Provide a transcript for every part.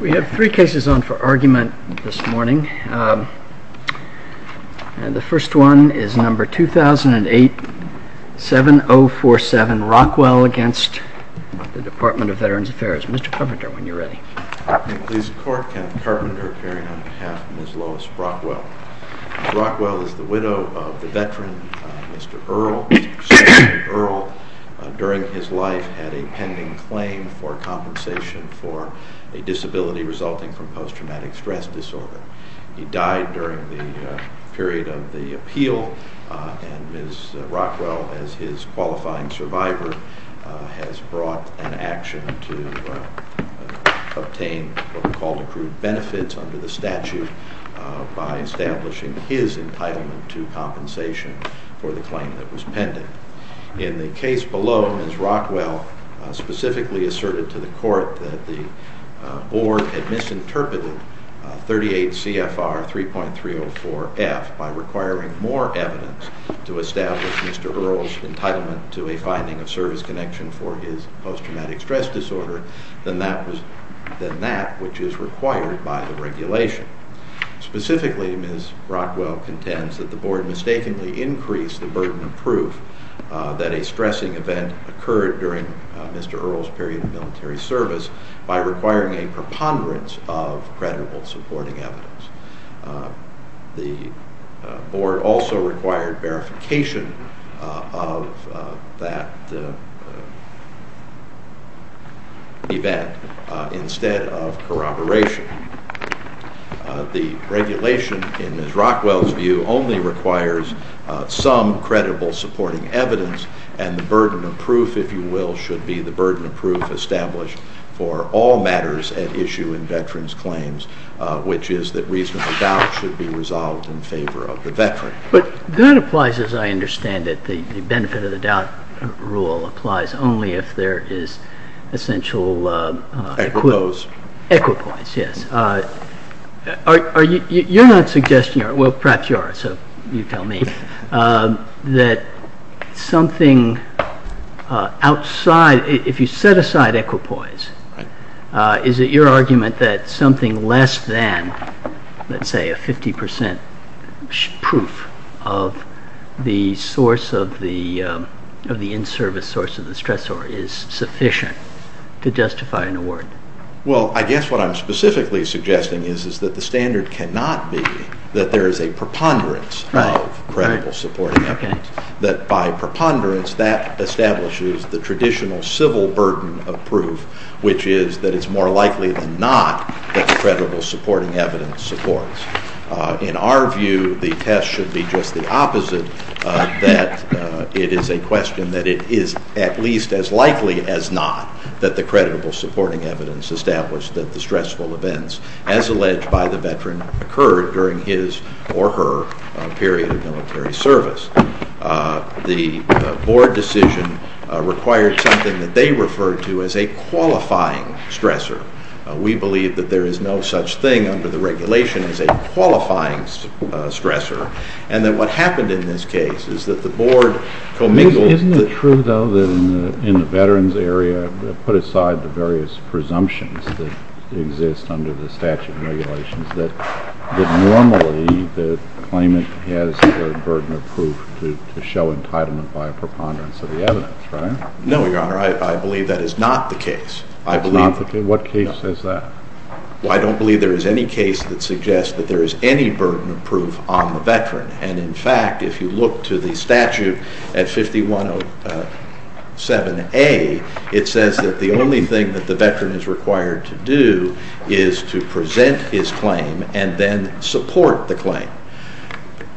We have three cases on for argument this morning. The first one is number 2008-7047 Rockwell against the Department of Veterans Affairs. Mr. Carpenter, when you're ready. Please record Kenneth Carpenter appearing on behalf of Ms. Lois Rockwell. Ms. Rockwell is the widow of the veteran Mr. Earl. Mr. Earl, during his life, had a pending claim for compensation for a disability resulting from post-traumatic stress disorder. He died during the period of the appeal and Ms. Rockwell, as his qualifying survivor, has brought an action to obtain what we call accrued benefits under the statute by establishing his entitlement to compensation for the claim that was pending. In the case below, Ms. Rockwell specifically asserted to the court that the board had misinterpreted 38 CFR 3.304F by requiring more evidence to establish Mr. Earl's entitlement to a finding of service connection for his post-traumatic stress disorder than that which is required by the regulation. Specifically, Ms. Rockwell contends that the board mistakenly increased the burden of proof that a stressing event occurred during Mr. Earl's period of military service by requiring a preponderance of credible supporting evidence. The board also required verification of that event instead of corroboration. The regulation, in Ms. Rockwell's view, only requires some credible supporting evidence and the burden of proof, if you will, should be the burden of proof established for all matters at issue in veterans' claims, which is that reasonable doubt should be resolved in favor of the veteran. But that applies, as I understand it, the benefit of the doubt rule applies only if there is essential equipoise. Equipoise, yes. You're not suggesting, or perhaps you are, so you tell me, that something outside, if you set aside equipoise, is it your argument that something less than, let's say, a 50% proof of the source of the in-service source of the stressor is sufficient to justify an award? Well, I guess what I'm specifically suggesting is that the standard cannot be that there is a preponderance of credible supporting evidence, that by preponderance that establishes the traditional civil burden of proof, which is that it's more likely than not that the credible supporting evidence supports. In our view, the test should be just the opposite, that it is a question that it is at least as likely as not that the credible supporting evidence established that the stressful events, as alleged by the veteran, occurred during his or her period of military service. The board decision required something that they referred to as a qualifying stressor. We believe that there is no such thing under the regulation as a qualifying stressor, and that what happened in this case is that the board commingled. Isn't it true, though, that in the veterans area, put aside the various presumptions that exist under the statute and regulations, that normally the claimant has the burden of proof to show entitlement by a preponderance of the evidence, right? No, Your Honor. I believe that is not the case. What case is that? Well, I don't believe there is any case that suggests that there is any burden of proof on the veteran, and in fact, if you look to the statute at 5107A, it says that the only thing that the veteran is required to do is to present his claim and then support the claim.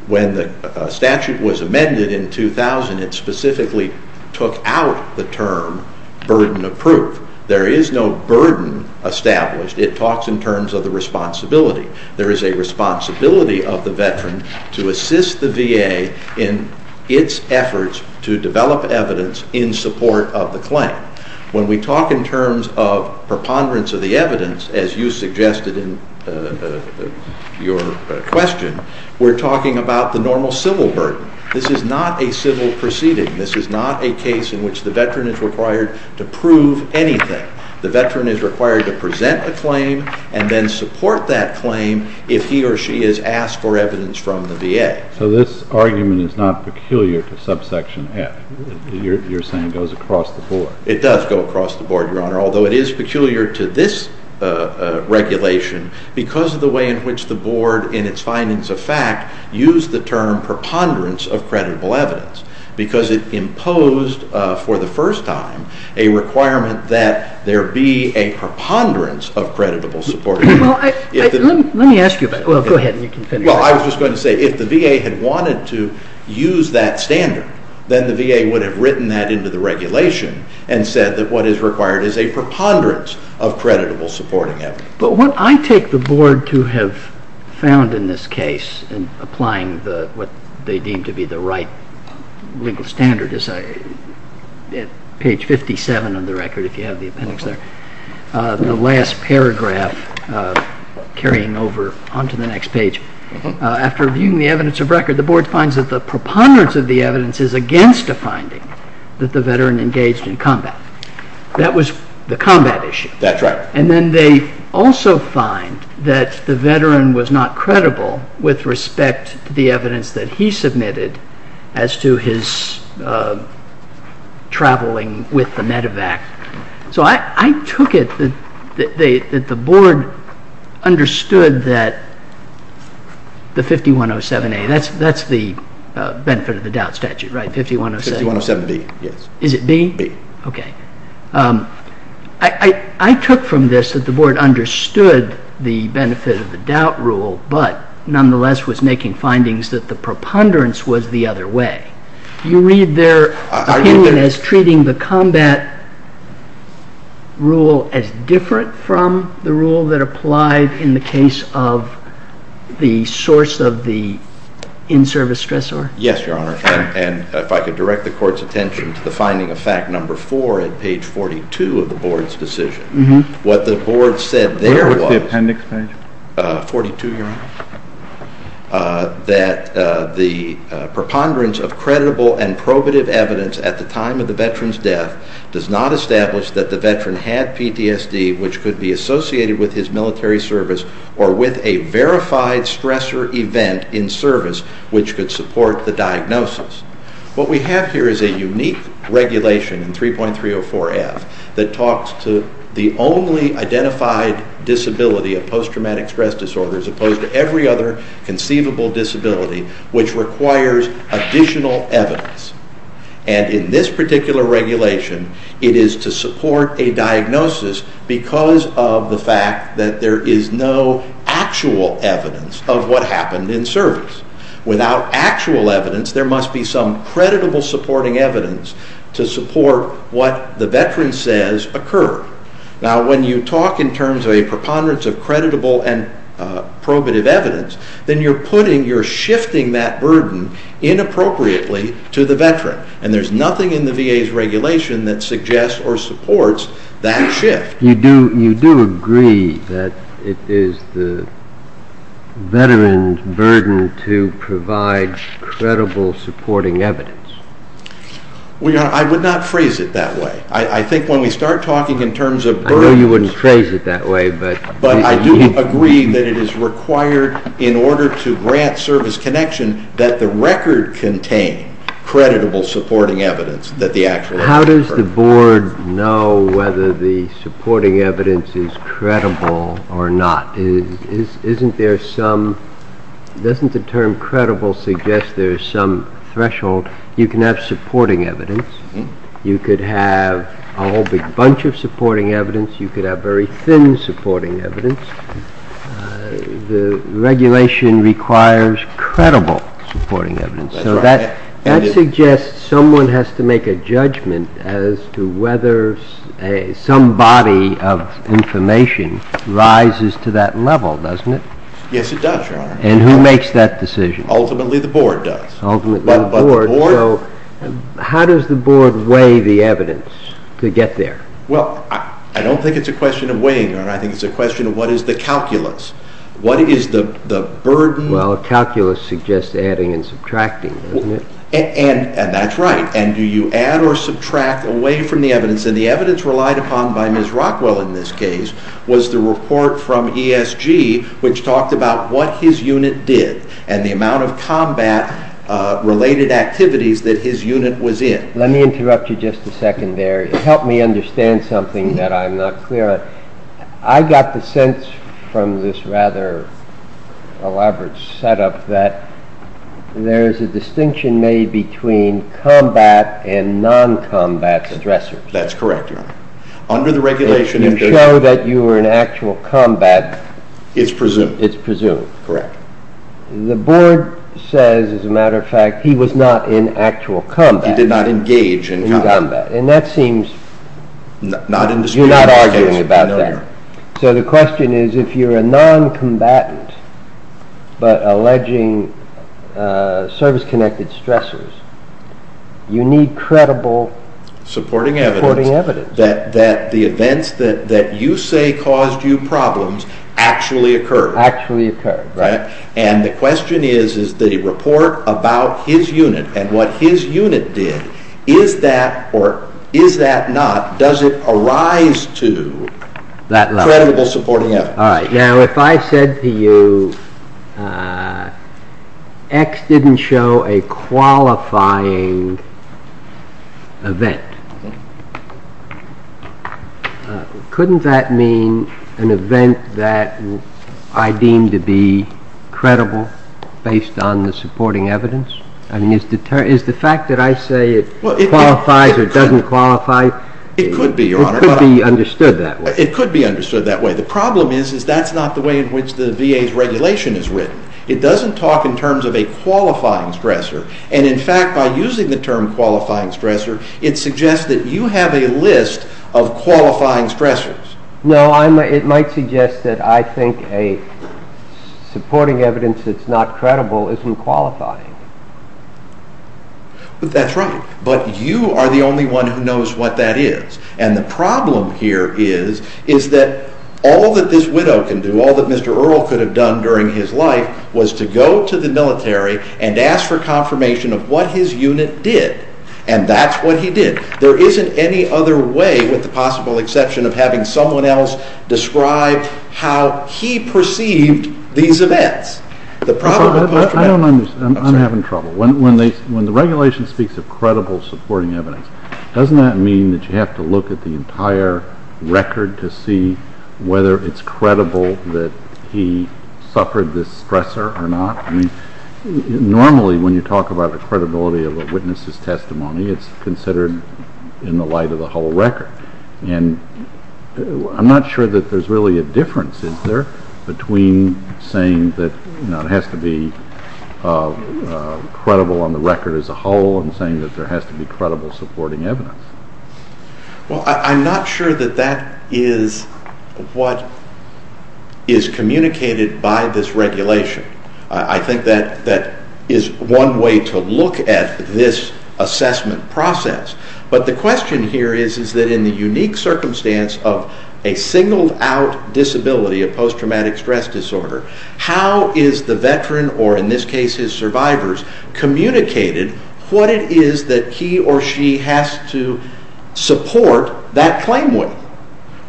When the statute was amended in 2000, it specifically took out the term burden of proof. There is no burden established. It talks in terms of the responsibility. There is a responsibility of the veteran to assist the VA in its efforts to develop evidence in support of the claim. When we talk in terms of preponderance of the evidence, as you suggested in your question, we're talking about the normal civil burden. This is not a civil proceeding. This is not a case in which the veteran is required to prove anything. The veteran is required to present a claim and then support that claim if he or she is asked for evidence from the VA. So this argument is not peculiar to subsection F. You're saying it goes across the board. It does go across the board, Your Honor, although it is peculiar to this regulation because of the way in which the board, in its findings of fact, used the term preponderance of credible evidence because it imposed, for the first time, a requirement that there be a preponderance of credible support. Well, let me ask you about that. Go ahead, and you can finish. Well, I was just going to say if the VA had wanted to use that standard, then the VA would have written that into the regulation and said that what is required is a preponderance of creditable supporting evidence. But what I take the board to have found in this case in applying what they deem to be the right legal standard is at page 57 of the record, if you have the appendix there, the last paragraph carrying over onto the next page. After reviewing the evidence of record, the board finds that the preponderance of the evidence is against a finding that the veteran engaged in combat. That was the combat issue. That's right. And then they also find that the veteran was not credible with respect to the evidence that he submitted as to his traveling with the medevac. So I took it that the board understood that the 5107A, that's the benefit of the doubt statute, right? 5107B, yes. Is it B? B. Okay. I took from this that the board understood the benefit of the doubt rule, but nonetheless was making findings that the preponderance was the other way. You read their opinion as treating the combat rule as different from the rule that applied in the case of the source of the in-service stressor? Yes, Your Honor. And if I could direct the court's attention to the finding of fact number four at page 42 of the board's decision. What the board said there was… What was the appendix page? 42, Your Honor. …that the preponderance of credible and probative evidence at the time of the veteran's death does not establish that the veteran had PTSD, which could be associated with his military service or with a verified stressor event in service which could support the diagnosis. What we have here is a unique regulation in 3.304F that talks to the only identified disability of post-traumatic stress disorder as opposed to every other conceivable disability which requires additional evidence. And in this particular regulation, it is to support a diagnosis because of the fact that there is no actual evidence of what happened in service. Without actual evidence, there must be some creditable supporting evidence to support what the veteran says occurred. Now, when you talk in terms of a preponderance of creditable and probative evidence, then you're putting, you're shifting that burden inappropriately to the veteran. And there's nothing in the VA's regulation that suggests or supports that shift. You do agree that it is the veteran's burden to provide credible supporting evidence. Well, Your Honor, I would not phrase it that way. I think when we start talking in terms of burdens… I know you wouldn't phrase it that way, but… But I do agree that it is required in order to grant service connection that the record contain creditable supporting evidence that the actual… But how does the board know whether the supporting evidence is credible or not? Isn't there some… doesn't the term credible suggest there's some threshold? You can have supporting evidence. You could have a whole big bunch of supporting evidence. You could have very thin supporting evidence. The regulation requires credible supporting evidence. So that suggests someone has to make a judgment as to whether some body of information rises to that level, doesn't it? Yes, it does, Your Honor. And who makes that decision? Ultimately the board does. Ultimately the board. But the board… So how does the board weigh the evidence to get there? Well, I don't think it's a question of weighing, Your Honor. I think it's a question of what is the calculus. What is the burden… Well, calculus suggests adding and subtracting, doesn't it? And that's right. And do you add or subtract away from the evidence? And the evidence relied upon by Ms. Rockwell in this case was the report from ESG which talked about what his unit did and the amount of combat-related activities that his unit was in. Let me interrupt you just a second there. It helped me understand something that I'm not clear on. I got the sense from this rather elaborate setup that there is a distinction made between combat and non-combat stressors. That's correct, Your Honor. Under the regulation… If you show that you were in actual combat… It's presumed. It's presumed. Correct. The board says, as a matter of fact, he was not in actual combat. He did not engage in combat. And that seems… Not in this particular case. You're not arguing about that. No, Your Honor. So the question is, if you're a non-combatant but alleging service-connected stressors, you need credible… Supporting evidence. Supporting evidence. That the events that you say caused you problems actually occurred. Actually occurred, right. And the question is, is the report about his unit and what his unit did, is that or is that not? Does it arise to… That level. …credible supporting evidence? All right. Now, if I said to you, X didn't show a qualifying event, couldn't that mean an event that I deem to be credible based on the supporting evidence? I mean, is the fact that I say it qualifies or doesn't qualify… It could be, Your Honor. It could be understood that way. It could be understood that way. The problem is, is that's not the way in which the VA's regulation is written. It doesn't talk in terms of a qualifying stressor. And, in fact, by using the term qualifying stressor, it suggests that you have a list of qualifying stressors. No, it might suggest that I think a supporting evidence that's not credible isn't qualifying. That's right. But you are the only one who knows what that is. And the problem here is, is that all that this widow can do, all that Mr. Earle could have done during his life, was to go to the military and ask for confirmation of what his unit did. And that's what he did. There isn't any other way with the possible exception of having someone else describe how he perceived these events. I'm having trouble. When the regulation speaks of credible supporting evidence, doesn't that mean that you have to look at the entire record to see whether it's credible that he suffered this stressor or not? Normally, when you talk about the credibility of a witness's testimony, it's considered in the light of the whole record. And I'm not sure that there's really a difference, is there, between saying that it has to be credible on the record as a whole and saying that there has to be credible supporting evidence? Well, I'm not sure that that is what is communicated by this regulation. I think that that is one way to look at this assessment process. But the question here is that in the unique circumstance of a signaled-out disability, a post-traumatic stress disorder, how is the veteran, or in this case his survivors, communicated what it is that he or she has to support that claim with?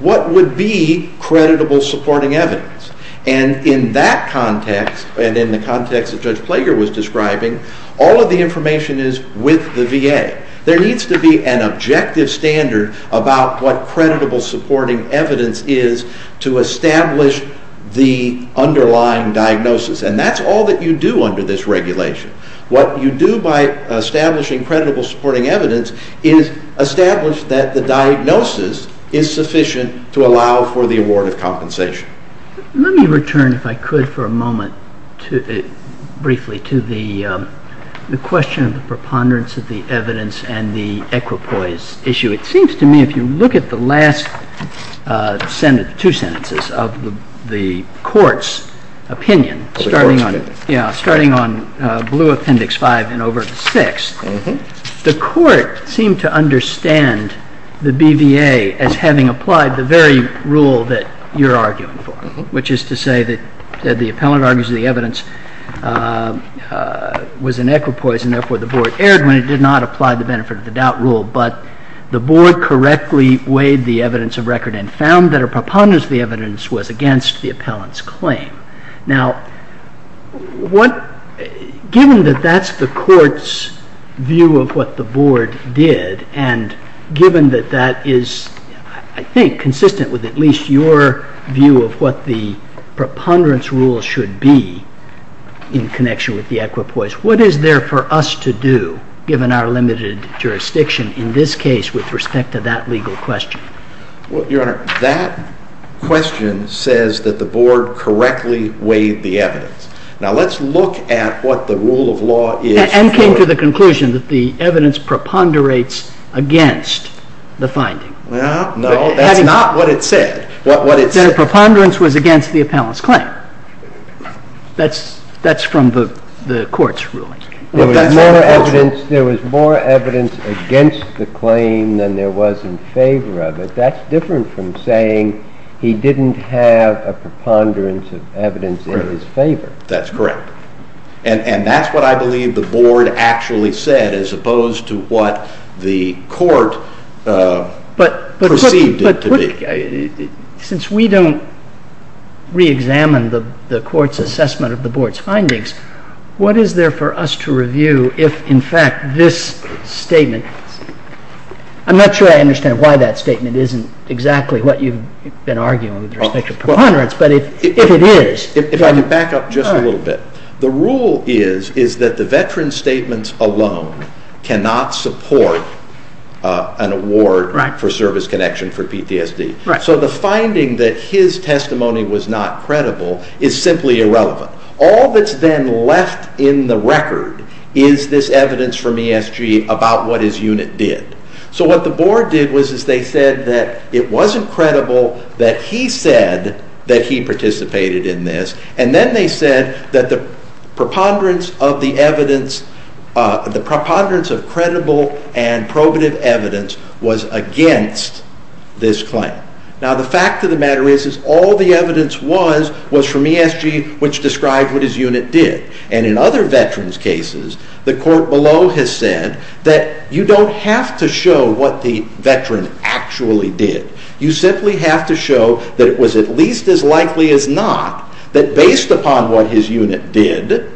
What would be credible supporting evidence? And in that context, and in the context that Judge Plager was describing, all of the information is with the VA. There needs to be an objective standard about what credible supporting evidence is to establish the underlying diagnosis. And that's all that you do under this regulation. What you do by establishing credible supporting evidence is establish that the diagnosis is sufficient to allow for the award of compensation. Let me return, if I could for a moment, briefly to the question of the preponderance of the evidence and the equipoise issue. It seems to me, if you look at the last two sentences of the Court's opinion, starting on Blue Appendix 5 and over to 6, the Court seemed to understand the BVA as having applied the very rule that you're arguing for, which is to say that the appellant argues that the evidence was an equipoise, and therefore the Board erred when it did not apply the benefit-of-the-doubt rule, but the Board correctly weighed the evidence of record and found that a preponderance of the evidence was against the appellant's claim. Now, given that that's the Court's view of what the Board did, and given that that is, I think, consistent with at least your view of what the preponderance rule should be in connection with the equipoise, what is there for us to do, given our limited jurisdiction in this case with respect to that legal question? Well, Your Honor, that question says that the Board correctly weighed the evidence. Now, let's look at what the rule of law is for— And came to the conclusion that the evidence preponderates against the finding. Well, no, that's not what it said. That a preponderance was against the appellant's claim. That's from the Court's ruling. There was more evidence against the claim than there was in favor of it. That's different from saying he didn't have a preponderance of evidence in his favor. That's correct. And that's what I believe the Board actually said, as opposed to what the Court perceived it to be. Since we don't reexamine the Court's assessment of the Board's findings, what is there for us to review if, in fact, this statement— I'm not sure I understand why that statement isn't exactly what you've been arguing with respect to preponderance, but if it is— If I could back up just a little bit. The rule is that the veteran's statements alone cannot support an award for service connection for PTSD. So the finding that his testimony was not credible is simply irrelevant. All that's then left in the record is this evidence from ESG about what his unit did. So what the Board did was they said that it wasn't credible that he said that he participated in this, and then they said that the preponderance of credible and probative evidence was against this claim. Now, the fact of the matter is that all the evidence was from ESG, which described what his unit did. And in other veterans' cases, the Court below has said that you don't have to show what the veteran actually did. You simply have to show that it was at least as likely as not that, based upon what his unit did,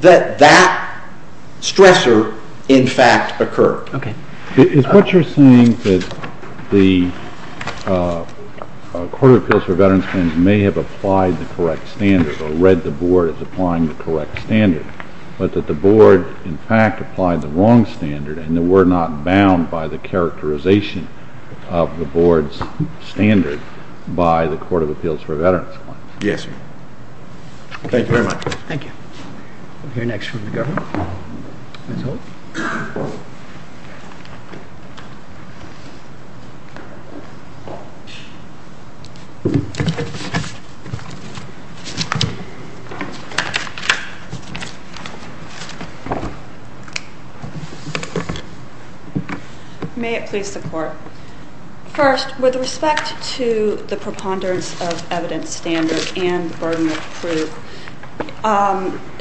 that that stressor in fact occurred. Okay. Is what you're saying that the Court of Appeals for Veterans' Claims may have applied the correct standard or read the Board as applying the correct standard, but that the Board, in fact, applied the wrong standard and that we're not bound by the characterization of the Board's standard by the Court of Appeals for Veterans' Claims? Yes, sir. Thank you very much. Thank you. We'll hear next from the Governor. Ms. Holt? May it please the Court. First, with respect to the preponderance of evidence standard and the burden of proof,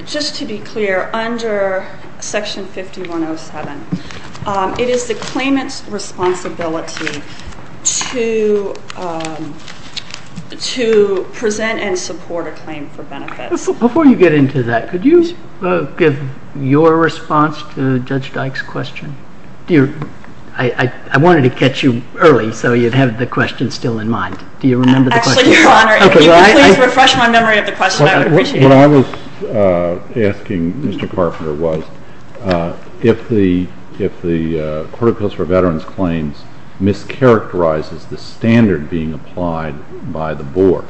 just to be clear, under Section 5107, it is the claimant's responsibility to present and support a claim for benefits. Before you get into that, could you give your response to Judge Dyke's question? I wanted to catch you early so you'd have the question still in mind. Do you remember the question? Your Honor, if you could please refresh my memory of the question, I would appreciate it. What I was asking Mr. Carpenter was if the Court of Appeals for Veterans' Claims mischaracterizes the standard being applied by the Board,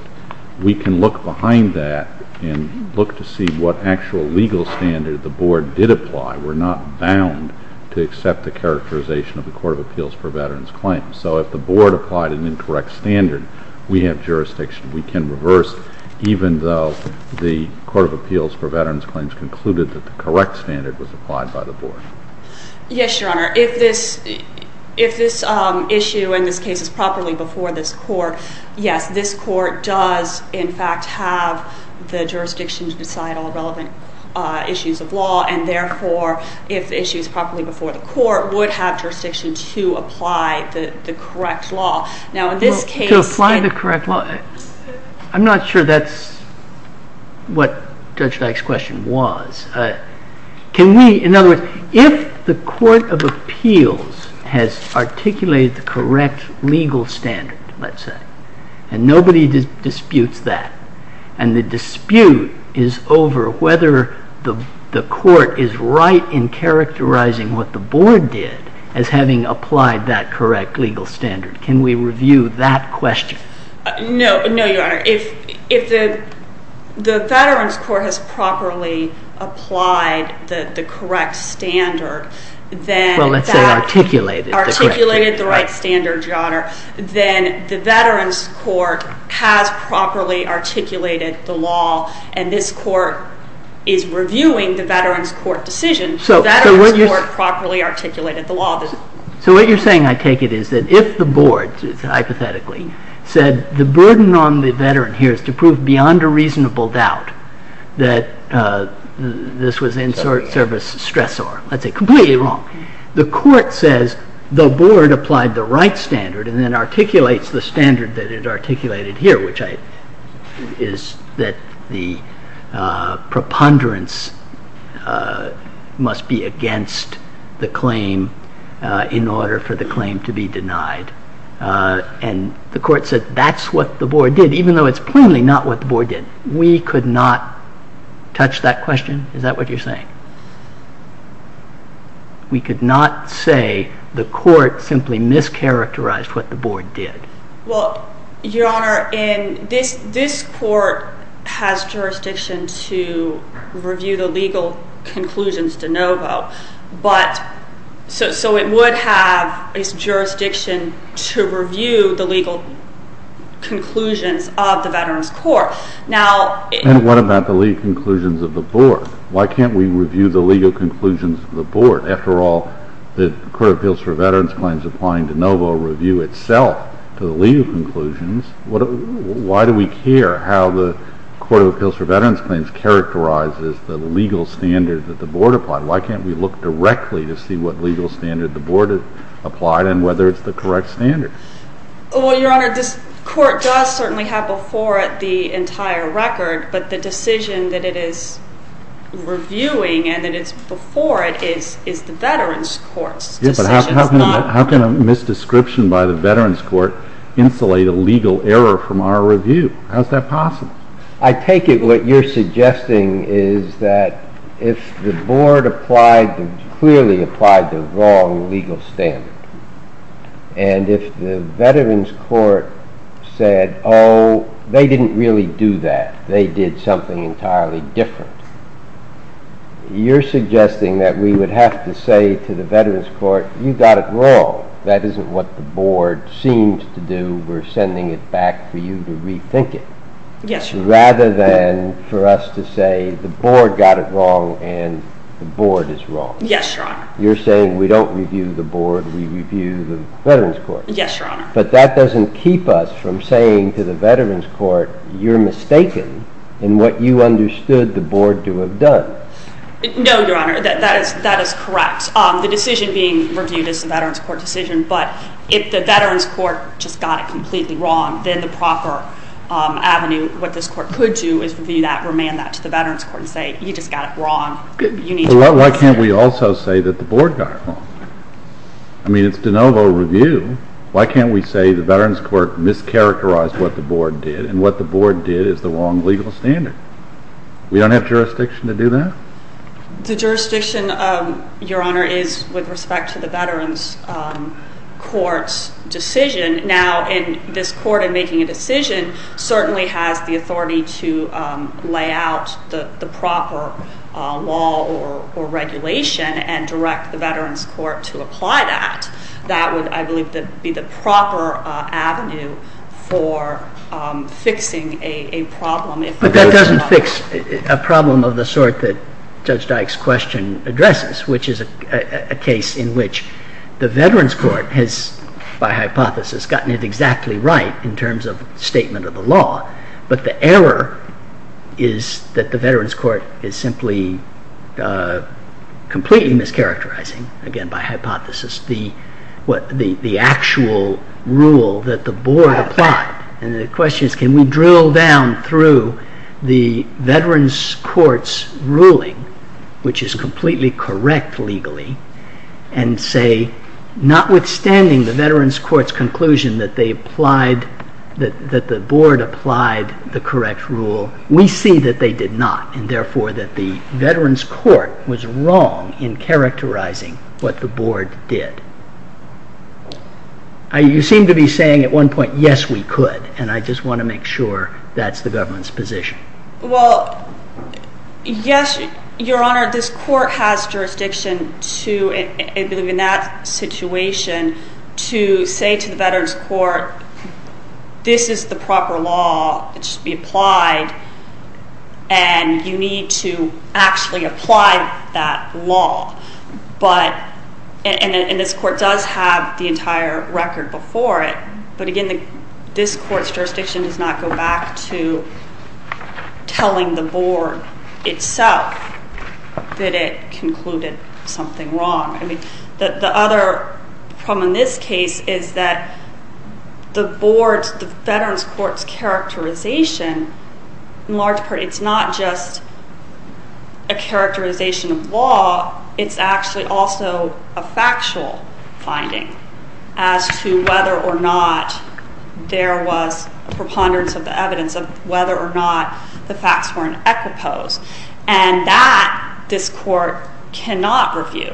we can look behind that and look to see what actual legal standard the Board did apply. We're not bound to accept the characterization of the Court of Appeals for Veterans' Claims. So if the Board applied an incorrect standard, we have jurisdiction. We can reverse even though the Court of Appeals for Veterans' Claims concluded that the correct standard was applied by the Board. Yes, Your Honor. If this issue in this case is properly before this Court, yes, this Court does in fact have the jurisdiction to decide all relevant issues of law, and therefore, if the issue is properly before the Court, would have jurisdiction to apply the correct law. To apply the correct law? I'm not sure that's what Judge Dyke's question was. In other words, if the Court of Appeals has articulated the correct legal standard, let's say, and nobody disputes that, and the dispute is over whether the Court is right in characterizing what the Board did as having applied that correct legal standard, can we review that question? No, Your Honor. If the Veterans' Court has properly applied the correct standard, then that... Well, let's say articulated the correct standard. then the Veterans' Court has properly articulated the law, and this Court is reviewing the Veterans' Court decision. The Veterans' Court properly articulated the law. So what you're saying, I take it, is that if the Board, hypothetically, said the burden on the Veteran here is to prove beyond a reasonable doubt that this was in service stressor, that's completely wrong. The Court says the Board applied the right standard and then articulates the standard that it articulated here, which is that the preponderance must be against the claim in order for the claim to be denied. And the Court said that's what the Board did, even though it's plainly not what the Board did. We could not touch that question? Is that what you're saying? We could not say the Court simply mischaracterized what the Board did? Well, Your Honor, this Court has jurisdiction to review the legal conclusions de novo, so it would have jurisdiction to review the legal conclusions of the Veterans' Court. And what about the legal conclusions of the Board? Why can't we review the legal conclusions of the Board? After all, the Court of Appeals for Veterans' Claims applying de novo review itself to the legal conclusions, why do we care how the Court of Appeals for Veterans' Claims characterizes the legal standard that the Board applied? Why can't we look directly to see what legal standard the Board applied and whether it's the correct standard? Well, Your Honor, this Court does certainly have before it the entire record, but the decision that it is reviewing and that it's before it is the Veterans' Court's decision. Yes, but how can a misdescription by the Veterans' Court insulate a legal error from our review? How is that possible? I take it what you're suggesting is that if the Board clearly applied the wrong legal standard and if the Veterans' Court said, oh, they didn't really do that, they did something entirely different, you're suggesting that we would have to say to the Veterans' Court, you got it wrong, that isn't what the Board seems to do, we're sending it back for you to rethink it. Yes, Your Honor. Rather than for us to say the Board got it wrong and the Board is wrong. Yes, Your Honor. You're saying we don't review the Board, we review the Veterans' Court. Yes, Your Honor. But that doesn't keep us from saying to the Veterans' Court you're mistaken in what you understood the Board to have done. No, Your Honor, that is correct. The decision being reviewed is the Veterans' Court decision, but if the Veterans' Court just got it completely wrong, then the proper avenue, what this Court could do is review that, remand that to the Veterans' Court and say, you just got it wrong, you need to reconsider. But why can't we also say that the Board got it wrong? I mean, it's de novo review. Why can't we say the Veterans' Court mischaracterized what the Board did and what the Board did is the wrong legal standard? We don't have jurisdiction to do that? The jurisdiction, Your Honor, is with respect to the Veterans' Court's decision. Now, this Court, in making a decision, certainly has the authority to lay out the proper law or regulation and direct the Veterans' Court to apply that. That would, I believe, be the proper avenue for fixing a problem. But that doesn't fix a problem of the sort that Judge Dyke's question addresses, which is a case in which the Veterans' Court has, by hypothesis, gotten it exactly right in terms of statement of the law. But the error is that the Veterans' Court is simply completely mischaracterizing, again by hypothesis, the actual rule that the Board applied. And the question is, can we drill down through the Veterans' Court's ruling, which is completely correct legally, and say, notwithstanding the Veterans' Court's conclusion that the Board applied the correct rule, we see that they did not and, therefore, that the Veterans' Court was wrong in characterizing what the Board did. You seem to be saying at one point, yes, we could, and I just want to make sure that's the government's position. Well, yes, Your Honor. This Court has jurisdiction to, I believe in that situation, to say to the Veterans' Court, this is the proper law that should be applied, and you need to actually apply that law. But, and this Court does have the entire record before it, but, again, this Court's jurisdiction does not go back to telling the Board itself that it concluded something wrong. The other problem in this case is that the Board's, the Veterans' Court's characterization, in large part, it's not just a characterization of law, it's actually also a factual finding as to whether or not there was preponderance of the evidence, of whether or not the facts were in equipose, and that this Court cannot review,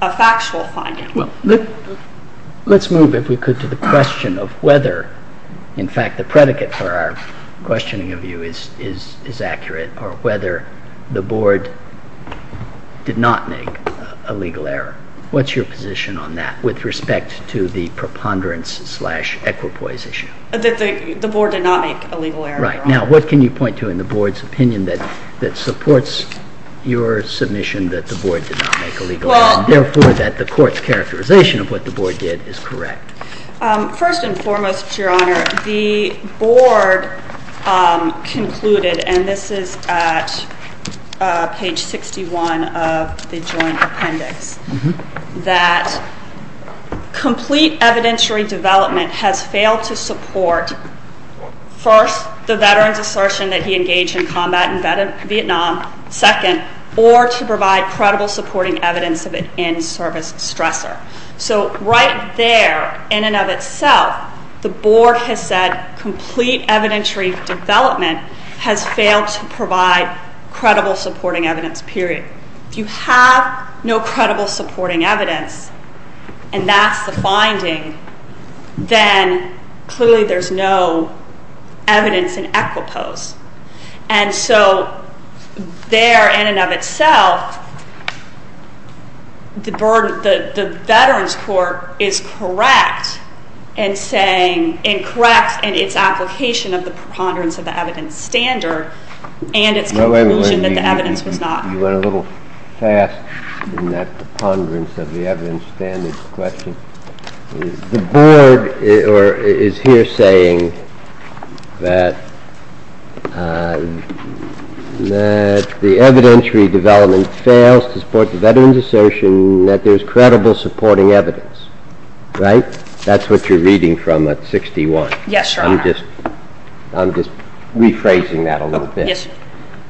a factual finding. Well, let's move, if we could, to the question of whether, in fact, the predicate for our questioning of you is accurate, or whether the Board did not make a legal error. What's your position on that with respect to the preponderance-slash-equipoise issue? That the Board did not make a legal error, Your Honor. Right. Now, what can you point to in the Board's opinion that supports your submission that the Board did not make a legal error, and, therefore, that the Court's characterization of what the Board did is correct? First and foremost, Your Honor, the Board concluded, and this is at page 61 of the Joint Appendix, that complete evidentiary development has failed to support, first, the Veterans' assertion that he engaged in combat in Vietnam, second, or to provide credible supporting evidence of an in-service stressor. So, right there, in and of itself, the Board has said complete evidentiary development has failed to provide credible supporting evidence, period. If you have no credible supporting evidence, and that's the finding, then, clearly, there's no evidence in equipoise. And so, there, in and of itself, the Veterans' Court is correct in saying, and correct in its application of the preponderance of the evidence standard and its conclusion that the evidence was not. You went a little fast in that preponderance of the evidence standard question. The Board is here saying that the evidentiary development fails to support the Veterans' assertion that there's credible supporting evidence, right? That's what you're reading from at 61. Yes, Your Honor. I'm just rephrasing that a little bit. Yes, Your Honor.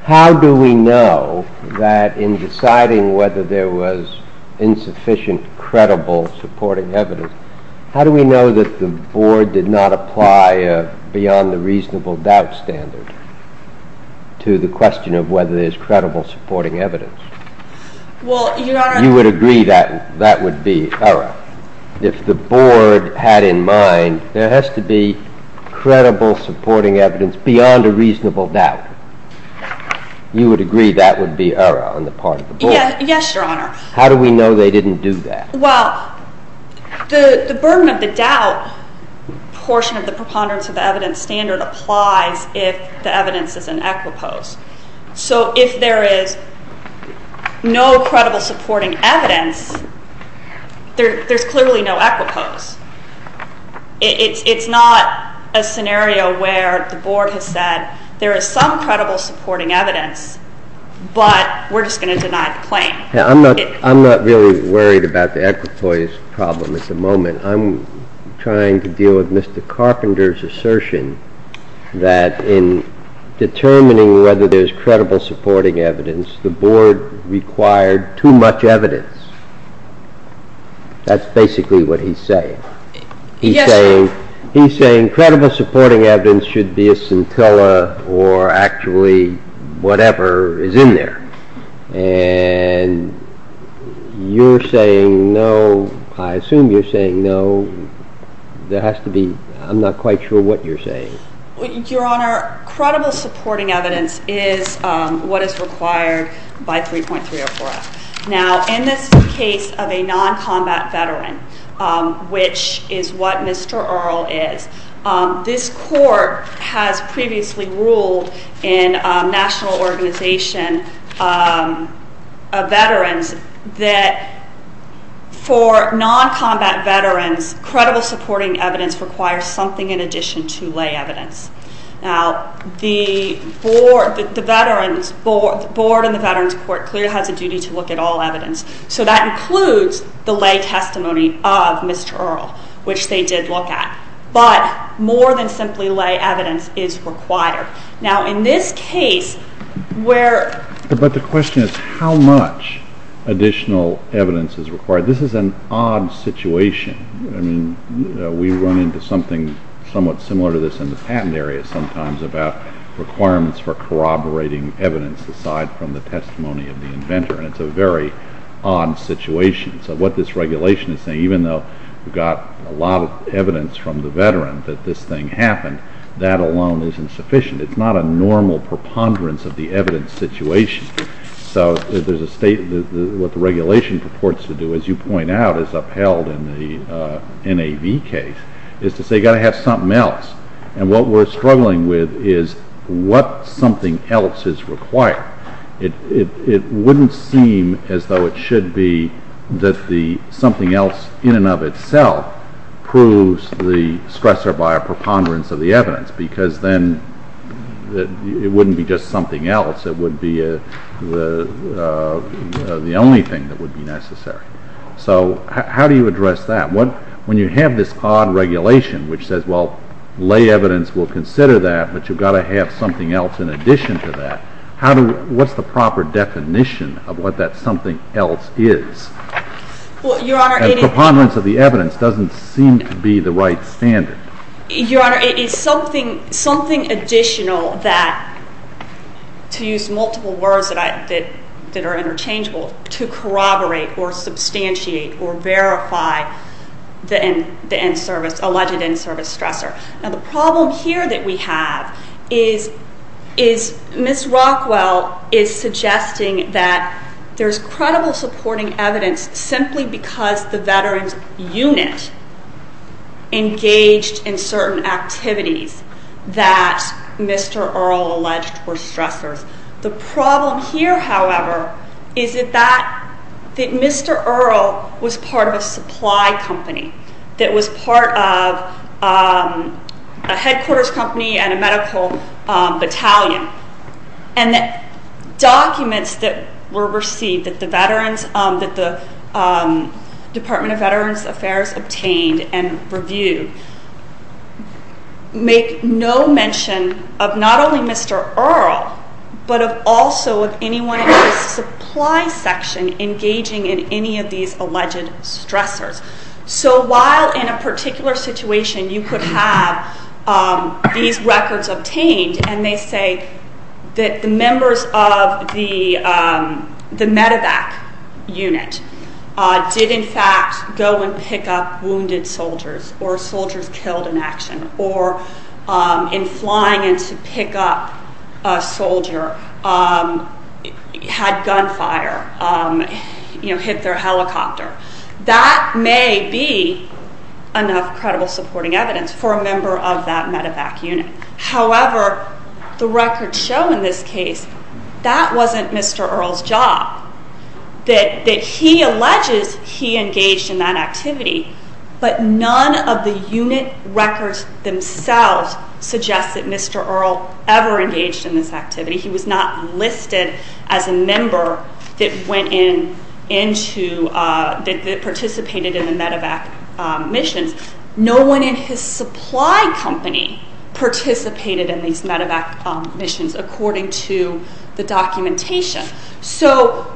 How do we know that, in deciding whether there was insufficient credible supporting evidence, how do we know that the Board did not apply a beyond-the-reasonable-doubt standard to the question of whether there's credible supporting evidence? Well, Your Honor. You would agree that that would be error. If the Board had in mind there has to be credible supporting evidence beyond a reasonable doubt, you would agree that would be error on the part of the Board? Yes, Your Honor. How do we know they didn't do that? Well, the burden of the doubt portion of the preponderance of the evidence standard applies if the evidence is in equipoise. So if there is no credible supporting evidence, there's clearly no equipoise. It's not a scenario where the Board has said there is some credible supporting evidence, but we're just going to deny the claim. I'm not really worried about the equipoise problem at the moment. I'm trying to deal with Mr. Carpenter's assertion that in determining whether there's credible supporting evidence, the Board required too much evidence. That's basically what he's saying. He's saying credible supporting evidence should be a scintilla or actually whatever is in there. And you're saying no. I assume you're saying no. There has to be. I'm not quite sure what you're saying. Your Honor, credible supporting evidence is what is required by 3.304F. Now, in this case of a non-combat veteran, which is what Mr. Earle is, this Court has previously ruled in a national organization of veterans that for non-combat veterans, credible supporting evidence requires something in addition to lay evidence. Now, the Board and the Veterans Court clearly has a duty to look at all evidence. So that includes the lay testimony of Mr. Earle, which they did look at. But more than simply lay evidence is required. Now, in this case where— But the question is how much additional evidence is required. This is an odd situation. I mean, we run into something somewhat similar to this in the patent area sometimes about requirements for corroborating evidence aside from the testimony of the inventor. And it's a very odd situation. So what this regulation is saying, even though we've got a lot of evidence from the veteran that this thing happened, that alone isn't sufficient. It's not a normal preponderance of the evidence situation. So what the regulation purports to do, as you point out, as upheld in the NAV case, is to say you've got to have something else. And what we're struggling with is what something else is required. It wouldn't seem as though it should be that something else in and of itself proves the stressor by a preponderance of the evidence because then it wouldn't be just something else. It would be the only thing that would be necessary. So how do you address that? When you have this odd regulation which says, well, lay evidence will consider that, but you've got to have something else in addition to that, what's the proper definition of what that something else is? A preponderance of the evidence doesn't seem to be the right standard. Your Honor, it is something additional that, to use multiple words that are interchangeable, to corroborate or substantiate or verify the alleged in-service stressor. Now the problem here that we have is Ms. Rockwell is suggesting that there's credible supporting evidence simply because the Veterans Unit engaged in certain activities that Mr. Earle alleged were stressors. The problem here, however, is that Mr. Earle was part of a supply company that was part of a headquarters company and a medical battalion, and the documents that were received that the Department of Veterans Affairs obtained and reviewed make no mention of not only Mr. Earle but also of anyone in the supply section engaging in any of these alleged stressors. So while in a particular situation you could have these records obtained and they say that the members of the medevac unit did in fact go and pick up wounded soldiers or soldiers killed in action or in flying in to pick up a soldier had gunfire, you know, hit their helicopter, that may be enough credible supporting evidence for a member of that medevac unit. However, the records show in this case that wasn't Mr. Earle's job, that he alleges he engaged in that activity, but none of the unit records themselves suggest that Mr. Earle ever engaged in this activity. He was not listed as a member that participated in the medevac missions. No one in his supply company participated in these medevac missions according to the documentation. So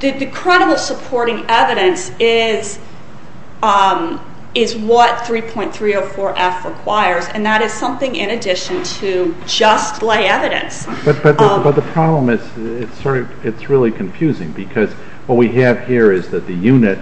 the credible supporting evidence is what 3.304F requires, and that is something in addition to just lay evidence. But the problem is it's really confusing because what we have here is that the unit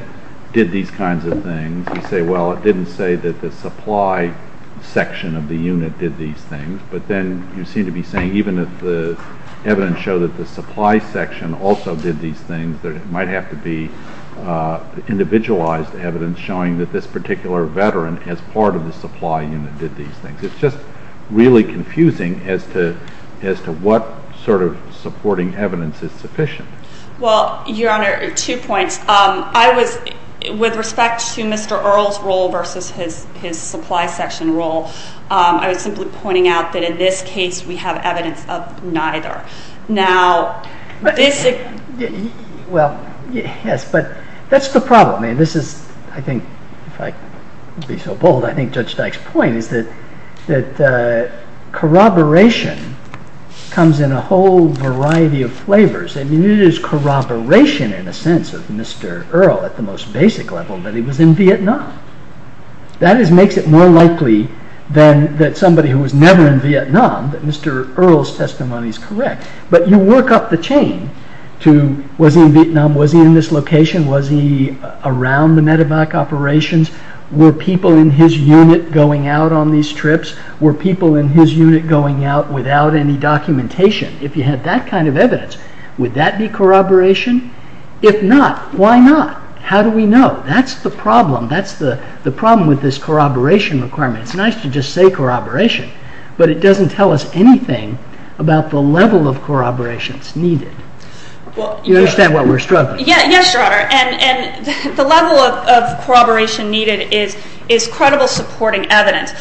did these kinds of things. You say, well, it didn't say that the supply section of the unit did these things, but then you seem to be saying even if the evidence showed that the supply section also did these things, there might have to be individualized evidence showing that this particular veteran as part of the supply unit did these things. It's just really confusing as to what sort of supporting evidence is sufficient. Well, Your Honor, two points. With respect to Mr. Earle's role versus his supply section role, I was simply pointing out that in this case we have evidence of neither. Well, yes, but that's the problem. This is, I think, if I could be so bold, I think Judge Dyke's point is that corroboration comes in a whole variety of flavors. It is corroboration in a sense of Mr. Earle at the most basic level that he was in Vietnam. That makes it more likely than that somebody who was never in Vietnam that Mr. Earle's testimony is correct. But you work up the chain to was he in Vietnam, was he in this location, was he around the medevac operations, were people in his unit going out on these trips, were people in his unit going out without any documentation. If you had that kind of evidence, would that be corroboration? If not, why not? How do we know? That's the problem. That's the problem with this corroboration requirement. It's nice to just say corroboration, but it doesn't tell us anything about the level of corroborations needed. You understand what we're struggling with. Yes, Your Honor, and the level of corroboration needed is credible supporting evidence.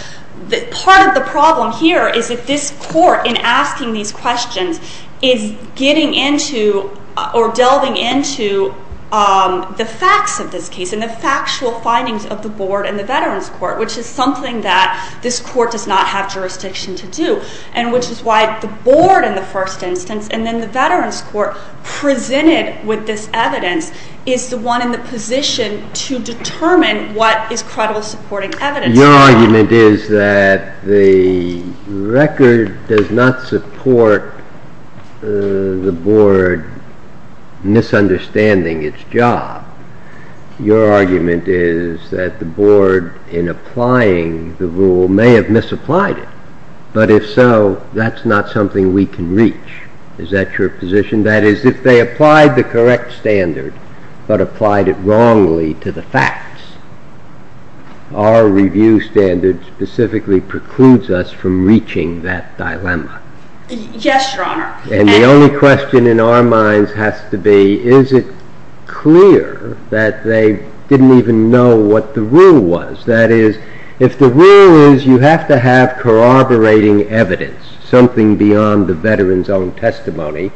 Part of the problem here is that this Court, in asking these questions, is getting into or delving into the facts of this case and the factual findings of the Board and the Veterans Court, which is something that this Court does not have jurisdiction to do, and which is why the Board in the first instance and then the Veterans Court presented with this evidence is the one in the position to determine what is credible supporting evidence. Your argument is that the record does not support the Board misunderstanding its job. Your argument is that the Board, in applying the rule, may have misapplied it. But if so, that's not something we can reach. Is that your position? That is, if they applied the correct standard but applied it wrongly to the facts, our review standard specifically precludes us from reaching that dilemma. Yes, Your Honor. And the only question in our minds has to be, is it clear that they didn't even know what the rule was? That is, if the rule is you have to have corroborating evidence, something beyond the veteran's own testimony,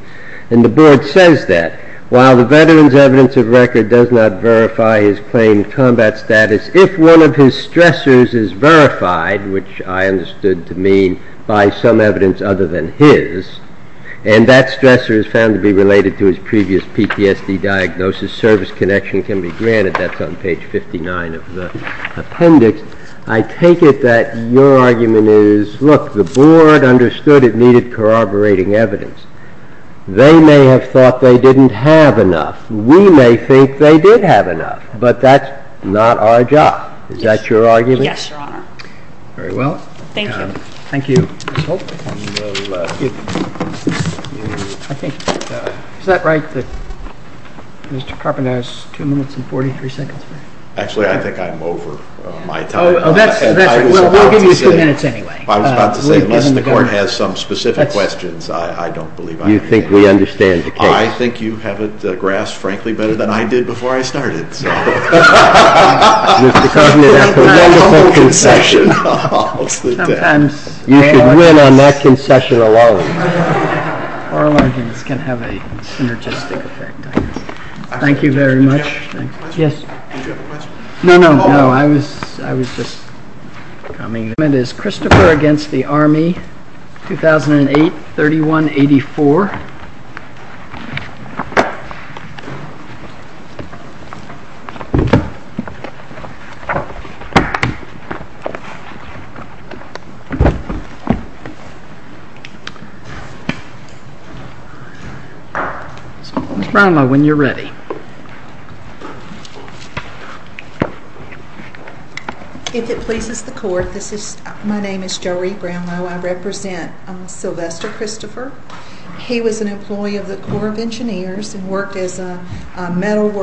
and the Board says that, while the veteran's evidence of record does not verify his claimed combat status, if one of his stressors is verified, which I understood to mean by some evidence other than his, and that stressor is found to be related to his previous PTSD diagnosis, service connection can be granted. That's on page 59 of the appendix. I take it that your argument is, look, the Board understood it needed corroborating evidence. They may have thought they didn't have enough. We may think they did have enough, but that's not our job. Is that your argument? Yes, Your Honor. Very well. Thank you. Thank you. Is that right that Mr. Carpenter has two minutes and 43 seconds? Actually, I think I'm over my time. Oh, that's right. We'll give you a few minutes anyway. I was about to say, unless the Court has some specific questions, I don't believe I have any. You think we understand the case. I think you have it grasped, frankly, better than I did before I started. Mr. Carpenter, that's a wonderful concession. You should win on that concession alone. Bar logins can have a synergistic effect. Thank you very much. Did you have a question? No, no, no. I was just coming. The amendment is Christopher v. Army, 2008-31-84. So, Ms. Brownlow, when you're ready. If it pleases the Court, my name is Joree Brownlow. I represent Sylvester Christopher. He was an employee of the Corps of Engineers and worked as a metal worker.